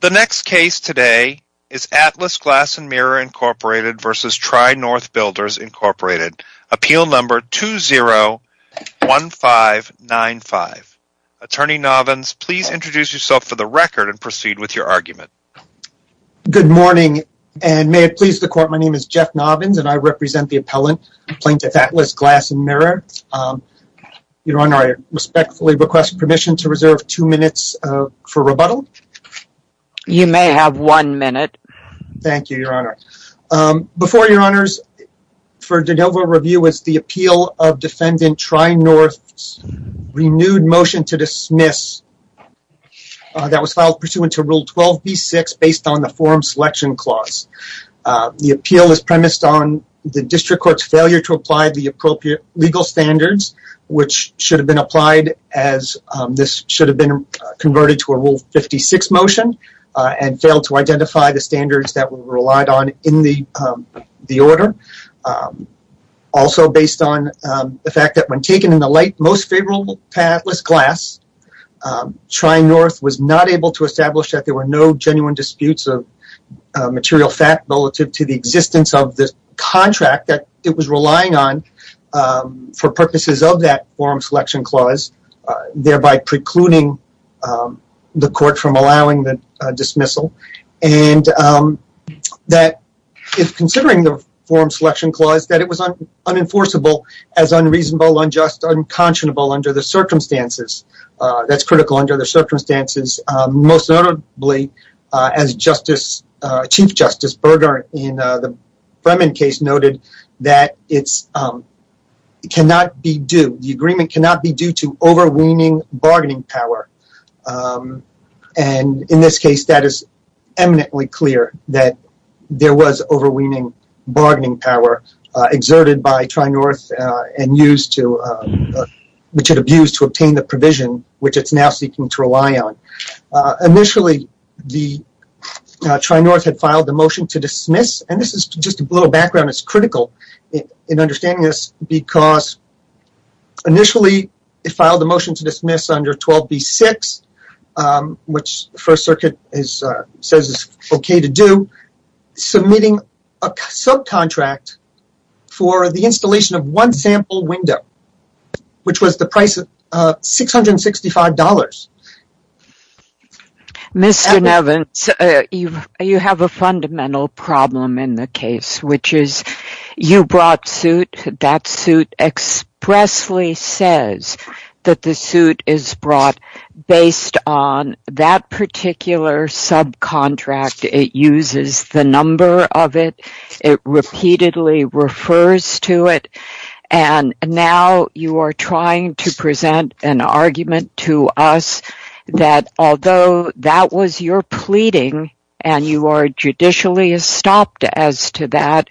The next case today is Atlas Glass & Mirror, Inc. v. Tri-North Builders, Inc. Appeal Number 201595. Attorney Novins, please introduce yourself for the record and proceed with your argument. Good morning and may it please the court, my name is Jeff Novins and I represent the appellant, Plaintiff Atlas Glass & Mirror. Your Honor, I respectfully request permission to reserve two minutes for rebuttal. You may have one minute. Thank you, Your Honor. Before, Your Honors, for de novo review is the appeal of Defendant Tri-North's renewed motion to dismiss that was filed pursuant to Rule 12b-6 based on the Forum Selection Clause. The appeal is premised on the District Court's failure to apply the appropriate legal standards which should have been applied as this should have been converted to a Rule 56 motion and failed to identify the standards that were relied on in the order. Also based on the fact that when taken in the light, most favorable path was glass. Tri-North was not able to establish that there were no genuine disputes of material fact relative to the existence of this for purposes of that Forum Selection Clause, thereby precluding the court from allowing the dismissal. And that is considering the Forum Selection Clause that it was unenforceable as unreasonable, unjust, unconscionable under the circumstances. That's critical under the circumstances. Most notably, as Chief Justice Berger in the Bremen case noted that it's it cannot be due, the agreement cannot be due to overweening bargaining power. And in this case, that is eminently clear that there was overweening bargaining power exerted by Tri-North and used to, which it abused to obtain the provision which it's now seeking to rely on. Initially, the Tri-North had filed the motion to dismiss, and this is just a little background, it's critical in understanding this, because initially it filed a motion to dismiss under 12b-6, which First Circuit says is okay to do, submitting a subcontract for the installation of one sample window, which was the price of $665. Mr. Nevins, you have a fundamental problem in the case, which is you brought suit, that suit expressly says that the suit is brought based on that particular subcontract. It uses the number of it, it repeatedly refers to it, and now you are trying to present an argument to us that although that was your pleading, and you are judicially stopped as to that,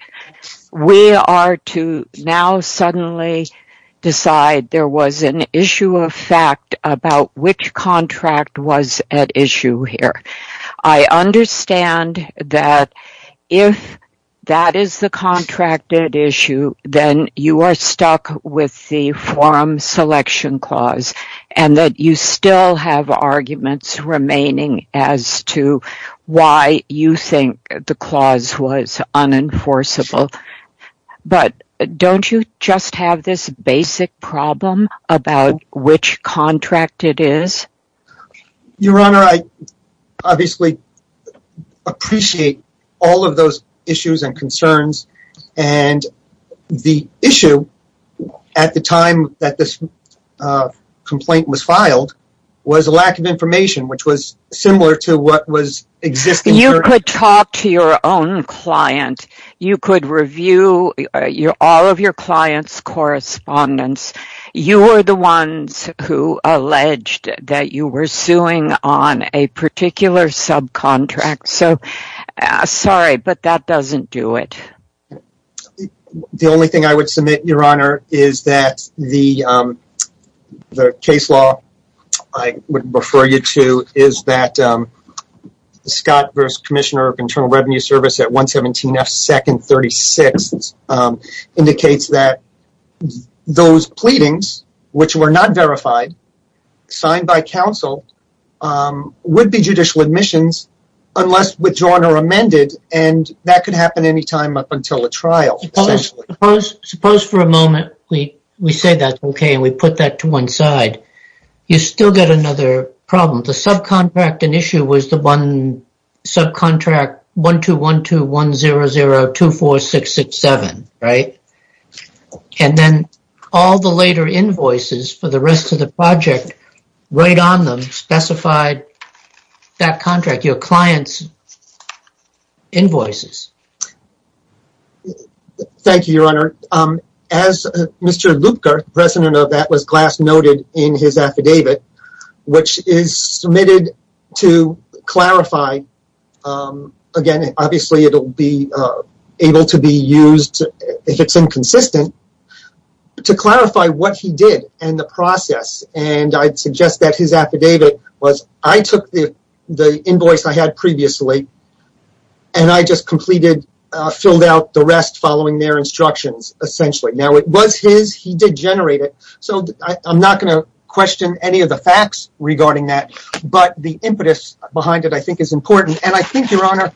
we are to now suddenly decide there was an issue of fact about which contract was at issue here. I understand that if that is the contract at issue, then you are stuck with the forum selection clause, and that you still have why you think the clause was unenforceable, but don't you just have this basic problem about which contract it is? Your Honor, I obviously appreciate all of those issues and concerns, and the issue at the time that this complaint was filed was a lack of information, which was similar to what was existing. You could talk to your own client. You could review all of your client's correspondence. You were the ones who alleged that you were suing on a particular subcontract, so sorry, but that doesn't do it. The only thing I would submit, Your Honor, is that the case law I would refer you to is that Scott v. Commissioner of Internal Revenue Service at 117 F 2nd 36th indicates that those pleadings, which were not verified, signed by counsel, would be judicial admissions unless withdrawn or amended, and that could happen any time up until a trial, essentially. Suppose for a moment we say that's okay and we put that to one side. You still get another problem. The subcontract at issue was the one subcontract 121210024667, right, and then all the later invoices for the rest of the project right on them specified that contract, your client's invoices. Thank you, Your Honor. As Mr. Luebker, president of that, was last noted in his affidavit, which is submitted to clarify, again, obviously it'll be able to be used if it's inconsistent, but to clarify what he did and the process, and I'd suggest that his affidavit was, I took the invoice I had previously and I just completed, filled out the rest following their instructions, essentially. Now, it was his. He did generate it, so I'm not going to question any of the facts regarding that, but the impetus behind it, I think, is important, and I think, Your Honor,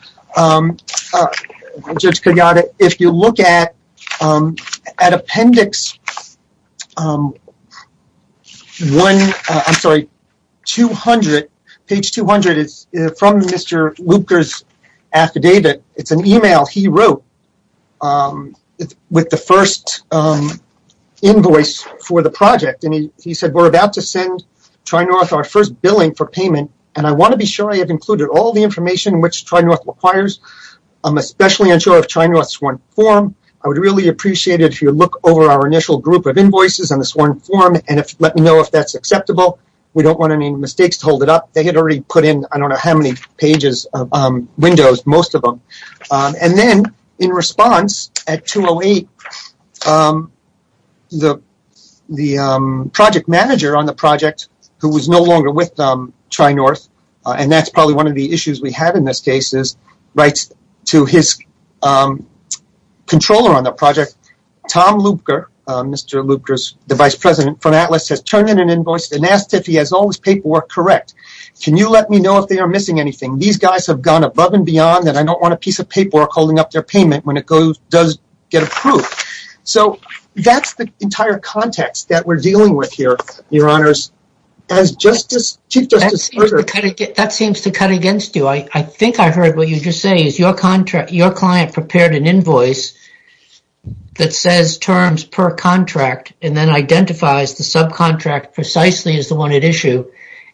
Judge Kogada, if you look at appendix one, I'm sorry, 200, page 200 is from Mr. Luebker's affidavit. It's an email he wrote with the first invoice for the project, and he said, we're about to send Tri-North our first billing for payment, and I want to be sure I have included all the information which Tri-North requires. I'm especially unsure of Tri-North's sworn form. I would really appreciate it if you look over our initial group of invoices on the sworn form and let me know if that's acceptable. We don't want any mistakes to hold it up. They had already put in, I don't know how many pages, windows, most of them, and then, in response, at 208, the project manager on the project, who was no longer with Tri-North, and that's probably one of the issues we have in this case, writes to his controller on the project, Tom Luebker, Mr. Luebker's, the vice president from Atlas, has turned in an invoice and asked if he has all his paperwork correct. Can you let me know if they are missing anything? These guys have gone above and beyond, and I don't want a piece of paperwork holding up their payment when it does get approved. So that's the entire context that we're dealing with here, Your Honors. That seems to cut against you. I think I heard what you just say, is your client prepared an invoice that says terms per contract and then identifies the subcontract precisely as the one at issue,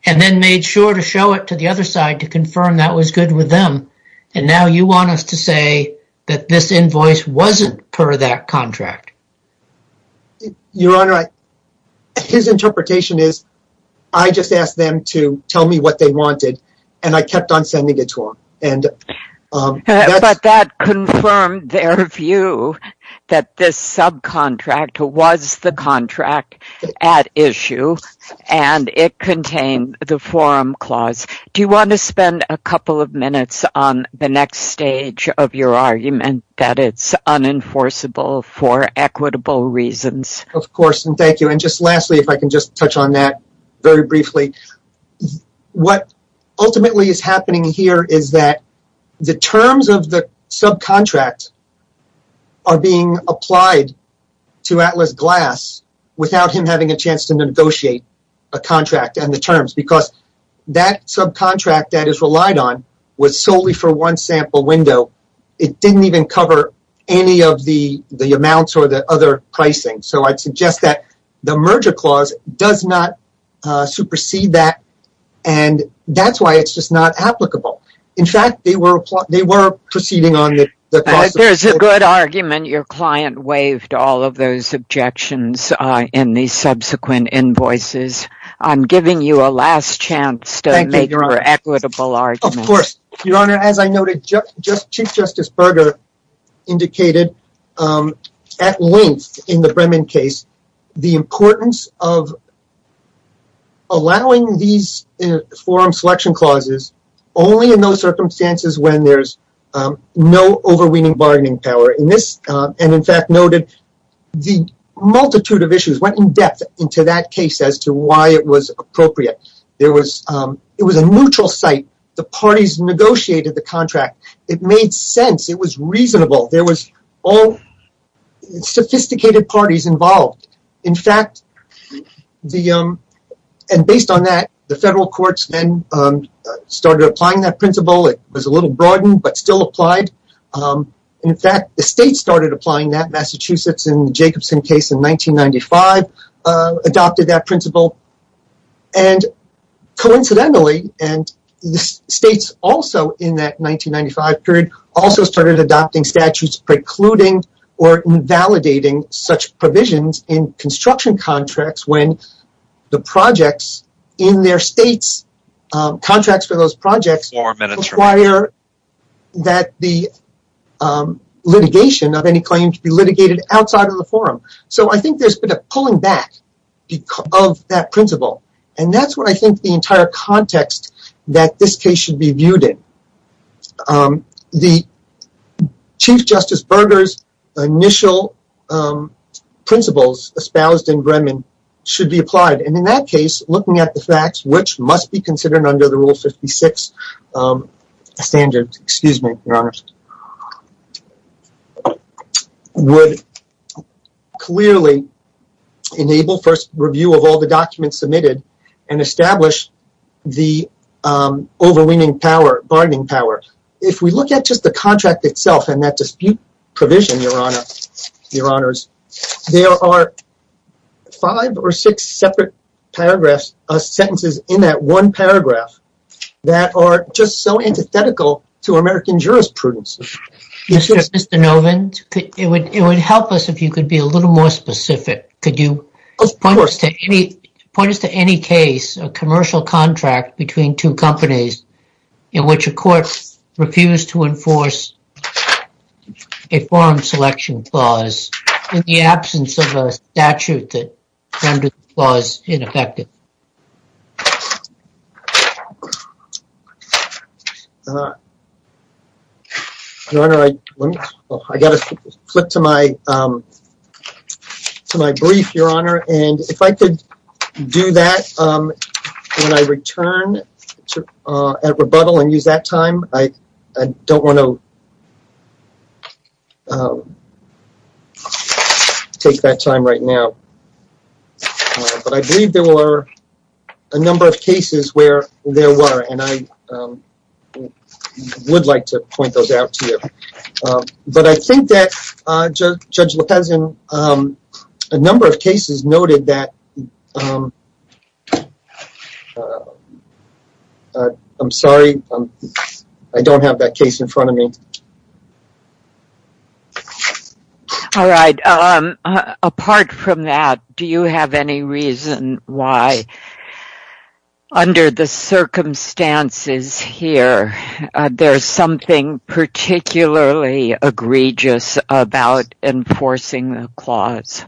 and then made sure to show it to the other side to confirm that was good with them, and now you want us to say that this invoice wasn't per that contract. Your Honor, his interpretation is, I just asked them to tell me what they wanted, and I kept on sending it to them. But that confirmed their view that this subcontract was the contract at issue, and it contained the forum clause. Do you want to spend a couple of that it's unenforceable for equitable reasons? Of course, and thank you. And just lastly, if I can just touch on that very briefly. What ultimately is happening here is that the terms of the subcontract are being applied to Atlas Glass without him having a chance to negotiate a contract and the terms, because that subcontract that is relied on was solely for one sample window. It didn't even cover any of the amounts or the other pricing. So, I'd suggest that the merger clause does not supersede that, and that's why it's just not applicable. In fact, they were proceeding on it. There's a good argument. Your client waived all of those objections in the subsequent invoices. I'm giving you a last chance to make an equitable argument. Of course. Your Honor, as I noted, Chief Justice Berger indicated at length in the Bremen case the importance of allowing these forum selection clauses only in those circumstances when there's no overweening bargaining power. And in fact noted the multitude of issues went in depth into that case as to why it was appropriate. It was a neutral site. The parties negotiated the contract. It made sense. It was reasonable. There was all sophisticated parties involved. In fact, and based on that, the federal courts then started applying that principle. It was a little broadened, but still applied. In fact, the state started applying that, Massachusetts, in the Jacobson case in 1995, adopted that principle. And coincidentally, the states also in that 1995 period also started adopting statutes precluding or invalidating such provisions in construction contracts when the projects in their states, contracts for those projects require that the litigation of any claim to be litigated outside of the forum. So I think there's been a pulling back of that principle. And that's what I think the entire context that this case should be viewed in. The Chief Justice Berger's initial principles espoused in Bremen should be applied. And in that case, looking at the facts, which must be considered under the Rule 56 standard, would clearly enable first review of all the documents submitted and establish the overweening bargaining power. If we look at just the contract itself and that dispute provision, Your Honor, Your Honors, there are five or six separate paragraphs, sentences in that one paragraph that are just so antithetical to American jurisprudence. Mr. Novand, it would help us if you could be a little more specific. Could you point us to any case, a commercial contract between two companies in which a court refused to enforce a forum selection clause in the absence of a statute that rendered the clause ineffective? Your Honor, I got to flip to my brief, Your Honor. And if I could do that when I return at rebuttal and use that time, I don't want to take that time right now. But I believe there were a number of cases where there were, and I would like to point those out to you. But I think that Judge Lopezon, a number of cases noted that I'm sorry, I don't have that case in front of me. All right. Apart from that, do you have any reason why, under the circumstances here, there's something particularly egregious about enforcing the clause?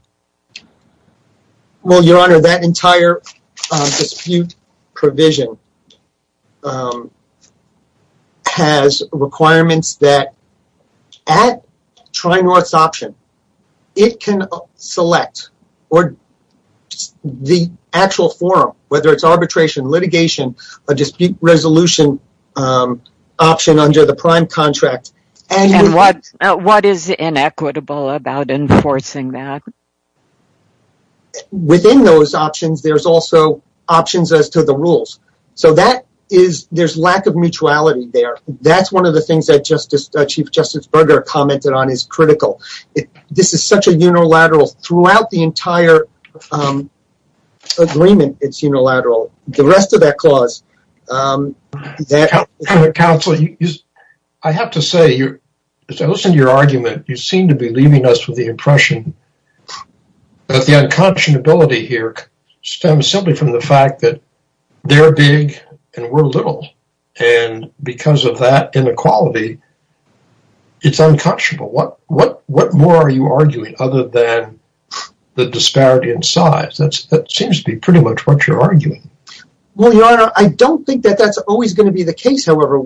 Well, Your Honor, that entire dispute provision has requirements that, at Tri-North's option, it can select the actual forum, whether it's arbitration, litigation, a dispute resolution option under the prime contract. And what is inequitable about enforcing that? Within those options, there's also options as to the rules. So there's lack of mutuality there. That's one of the things that Chief Justice Berger commented on is critical. This is such a unilateral throughout the entire agreement, it's unilateral. The rest of that clause... Counsel, I have to say, as I listen to your argument, you seem to be leaving us with the impression that the unconscionability here stems simply from the fact that they're big and we're little. And because of that inequality, it's unconscionable. What more are you arguing other than the disparity in size? That seems to be pretty much what you're arguing. Well, Your Honor, I don't think that that's always going to be the case, however,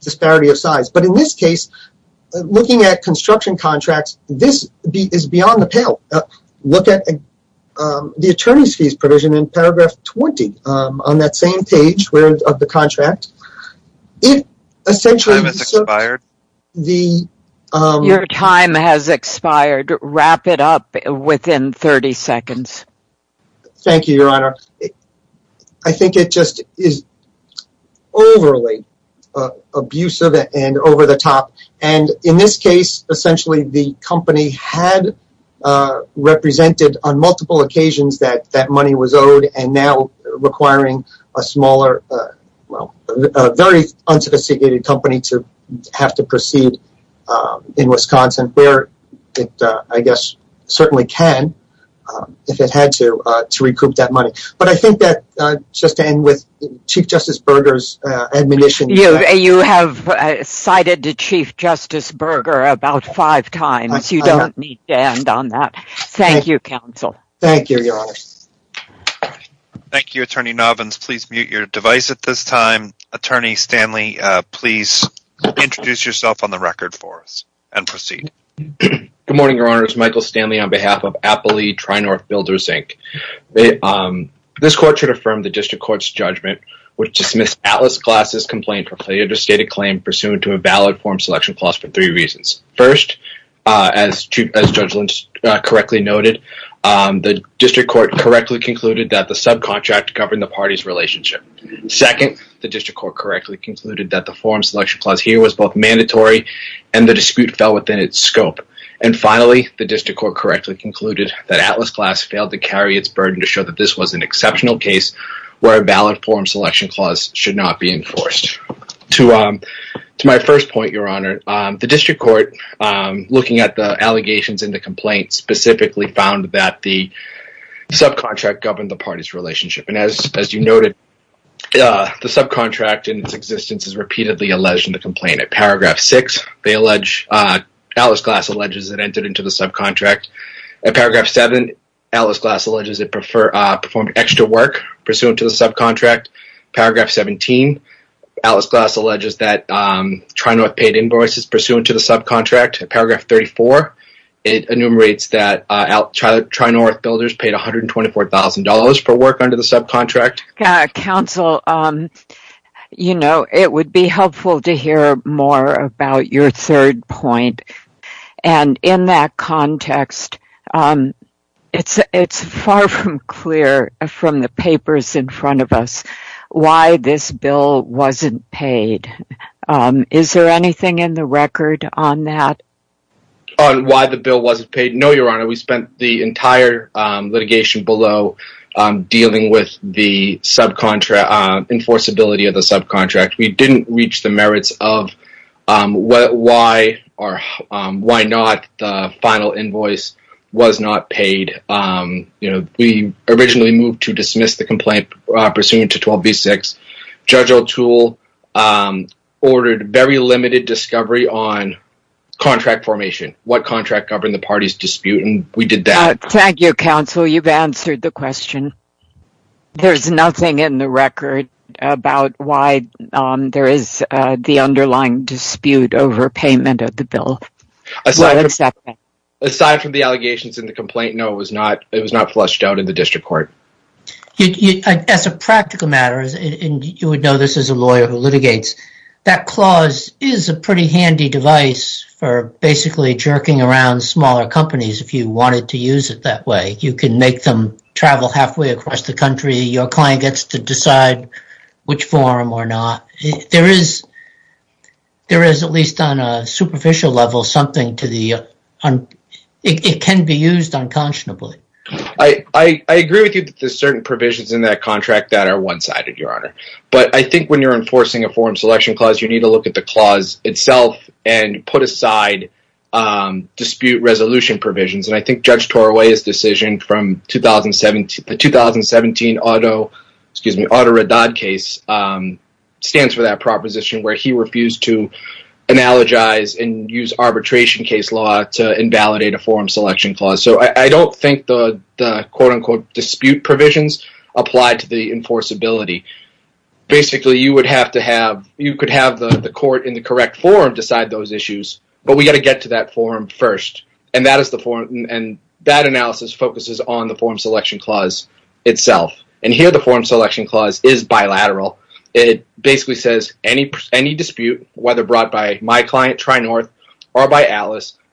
disparity of size. But in this case, looking at construction contracts, this is beyond the pale. Look at the attorney's fees provision in paragraph 20 on that same page of the contract. Your time has expired. Wrap it up within 30 seconds. Thank you, Your Honor. I think it just is overly abusive and over the top. And in this case, essentially, the company had represented on multiple occasions that that money was owed and now requiring a smaller, well, a very unsophisticated company to have to proceed in Wisconsin, where it, I guess, certainly can if it had to recoup that money. But I think that just to end with Chief Justice Berger's admonition. You have cited Chief Justice Berger about five times. You don't need to end on that. Thank you, counsel. Thank you, Your Honor. Thank you, Attorney Novins. Please mute your device at this time. Attorney Stanley, please introduce yourself on the record for us and proceed. Good morning, Your Honor. It's Michael Stanley on behalf of Appley Tri-North Builders, Inc. This court should affirm the district court's judgment, which dismissed Atlas Glass's complaint for failure to state a claim pursuant to a valid form selection clause for three reasons. First, as Judge Lynch correctly noted, the district court correctly concluded that the subcontract governed the party's relationship. Second, the district court correctly concluded that the the district court correctly concluded that Atlas Glass failed to carry its burden to show that this was an exceptional case where a valid form selection clause should not be enforced. To my first point, Your Honor, the district court, looking at the allegations in the complaint, specifically found that the subcontract governed the party's relationship. And as you noted, the subcontract in its existence is repeatedly alleged in the complaint. At paragraph six, they allege, Atlas Glass alleges it entered into the subcontract. At paragraph seven, Atlas Glass alleges it performed extra work pursuant to the subcontract. Paragraph 17, Atlas Glass alleges that Tri-North paid invoices pursuant to the subcontract. At paragraph 34, it enumerates that Tri-North Builders paid $124,000 for work under the subcontract. Counsel, you know, it would be helpful to hear more about your third point. And in that context, it's far from clear from the papers in front of us why this bill wasn't paid. Is there anything in the record on that? On why the bill wasn't paid? No, Your Honor, we spent the entire litigation below dealing with the enforceability of the subcontract. We didn't reach the merits of why or why not the final invoice was not paid. You know, we originally moved to dismiss the complaint pursuant to 12v6. Judge O'Toole ordered very limited discovery on contract formation, what contract governed the party's dispute, and we did that. Thank you, Counsel. You've answered the question. There's nothing in the record about why there is the underlying dispute over payment of the bill. Aside from the allegations in the complaint, no, it was not. It was not fleshed out in the district court. As a practical matter, you would know this as a lawyer who litigates. That clause is a pretty handy device for basically jerking around smaller companies if you wanted to use it that way. You can make them travel halfway across the country. Your client gets to decide which form or not. There is, at least on a superficial level, something to the – it can be used unconscionably. I agree with you that certain provisions in that contract that are one-sided, Your Honor. But I think when you're enforcing a forum selection clause, you need to look at the clause itself and put aside dispute resolution provisions. I think Judge Torway's decision from the 2017 auto – excuse me – auto red dot case stands for that proposition where he refused to analogize and use arbitration case law to invalidate a forum selection clause. I don't think the dispute provisions apply to the enforceability. Basically, you would have to have – you could have the court in the correct forum decide those issues, but we got to get to that forum first. That analysis focuses on the forum selection clause itself. Here, the forum selection clause is bilateral. It basically says any dispute, whether brought by my client, Tri-North, or by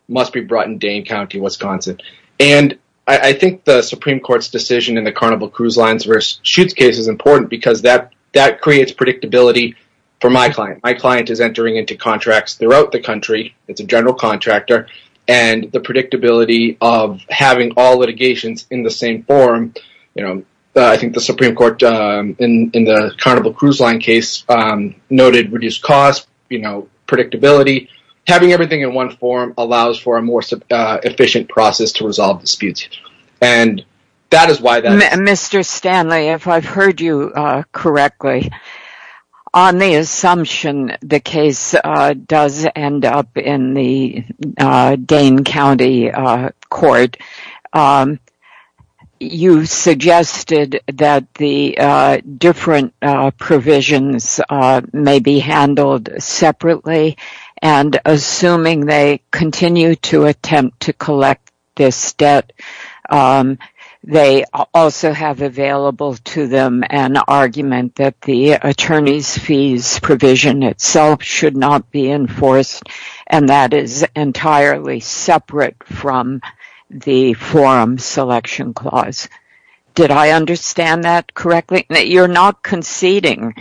must be brought in Dane County, Wisconsin. I think the Supreme Court's decision in the Carnival Cruise Lines versus Schutz case is important because that creates predictability for my client. My client is entering into contracts throughout the country. It's a general contractor. The predictability of having all litigations in the same forum – I think the Supreme Court in the Carnival Cruise Line case noted reduced cost, predictability. Having everything in one forum allows for a more efficient process to resolve disputes. That is why… Mr. Stanley, if I've heard you correctly, on the assumption the case does end up in the Dane County court, you suggested that the different provisions may be handled separately and assuming they continue to attempt to collect this debt, they also have available to them an argument that the attorney's fees provision itself should not be enforced and that is entirely separate from the forum selection clause. Did I understand that correctly? You're not conceding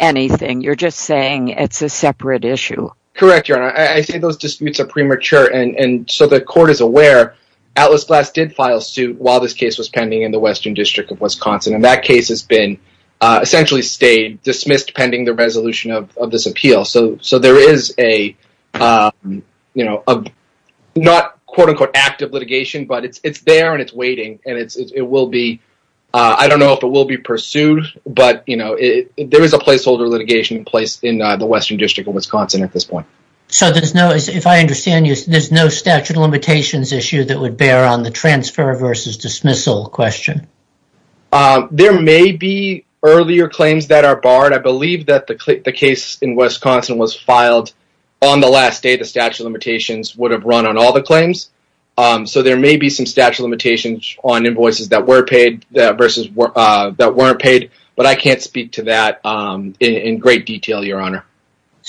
anything. You're just saying it's a separate issue. Correct, Your Honor. I think those disputes are premature. The court is aware Atlas Glass did file suit while this case was pending in the Western District of Wisconsin. That case has been essentially stayed, dismissed pending the resolution of this appeal. There is a not quote-unquote active litigation, but it's there and it's waiting. I don't know if it will be pursued, but there is a placeholder litigation in place in the Western District of Wisconsin at this point. If I understand you, there's no statute of limitations issue that would bear on the transfer versus dismissal question. There may be earlier claims that are barred. I believe that the case in Wisconsin was filed on the last day the statute of limitations would have run on all claims. There may be some statute of limitations on invoices that were paid versus that weren't paid, but I can't speak to that in great detail, Your Honor.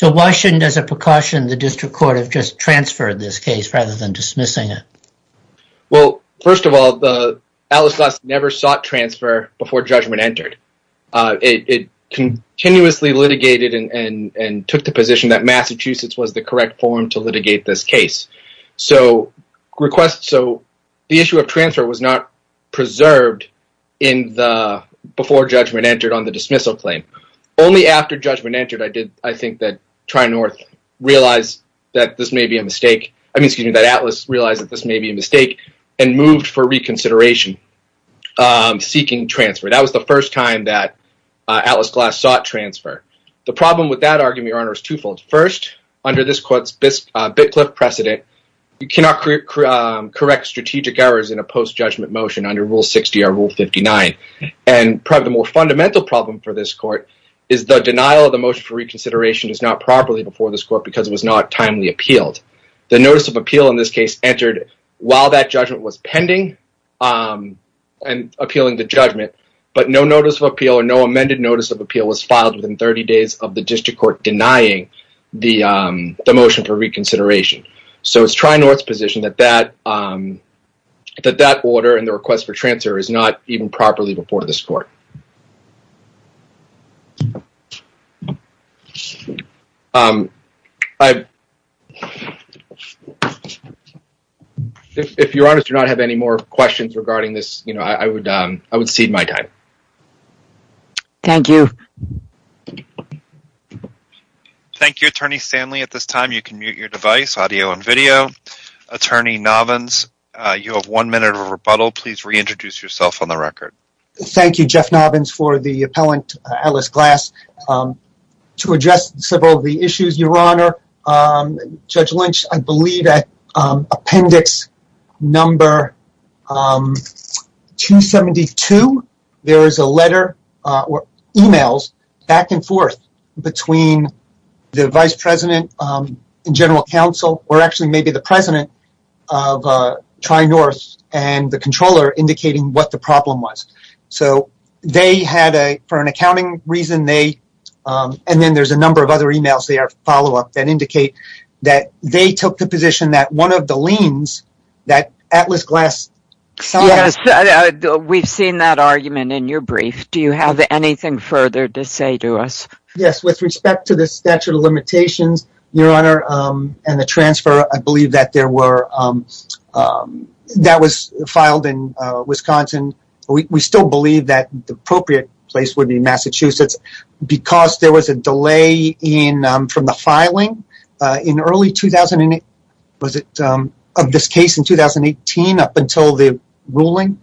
Why shouldn't, as a precaution, the district court have just transferred this case rather than dismissing it? First of all, Atlas Glass never sought transfer before judgment entered. It continuously litigated and took the request, so the issue of transfer was not preserved before judgment entered on the dismissal claim. Only after judgment entered, I think that Tri-North realized that this may be a mistake, I mean, excuse me, that Atlas realized that this may be a mistake and moved for reconsideration seeking transfer. That was the first time that Atlas Glass sought transfer. The problem with that argument, Your Honor, is twofold. First, under this court's Bitcliff precedent, you cannot correct strategic errors in a post-judgment motion under Rule 60 or Rule 59, and probably the more fundamental problem for this court is the denial of the motion for reconsideration is not properly before this court because it was not timely appealed. The notice of appeal in this case entered while that judgment was pending and appealing the judgment, but no notice of appeal or no amended notice of appeal was filed within 30 days of the district court denying the motion for reconsideration, so it's Tri-North's position that that order and the request for transfer is not even properly before this court. If Your Honor does not have any more questions regarding this, you know, I would cede my time. Thank you. Thank you, Attorney Stanley. At this time, you can mute your device, audio and video. Attorney Novins, you have one minute of rebuttal. Please reintroduce yourself on the record. Thank you, Jeff Novins, for the appellant Atlas Glass. To address several of the issues, Your Honor, we've seen that argument in your brief. Do you have anything further to say to us? Yes, with respect to the statute of limitations, Your Honor, and the transfer, I believe that there were, that was filed in Wisconsin. We still believe that the appropriate place would be Massachusetts because there was a delay in, from the filing in early 2008, was it, of this case in 2018 up until the ruling.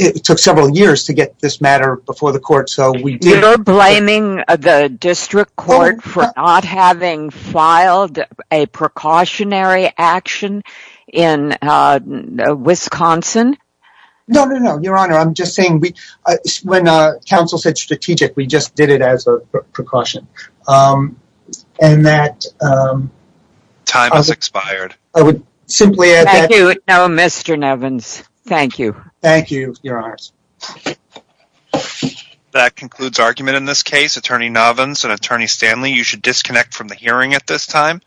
It took several years to get this matter before the court, so we did. You're blaming the district court for not having filed a precautionary action in Wisconsin? No, no, no, Your Honor. I'm just saying we, when counsel said strategic, we just did it as a precaution. And that... Time has expired. I would simply add that... Thank you. No, Mr. Novins, thank you. Thank you, Your Honors. That concludes argument in this case. Attorney Novins and Attorney Stanley, you should disconnect from the hearing at this time.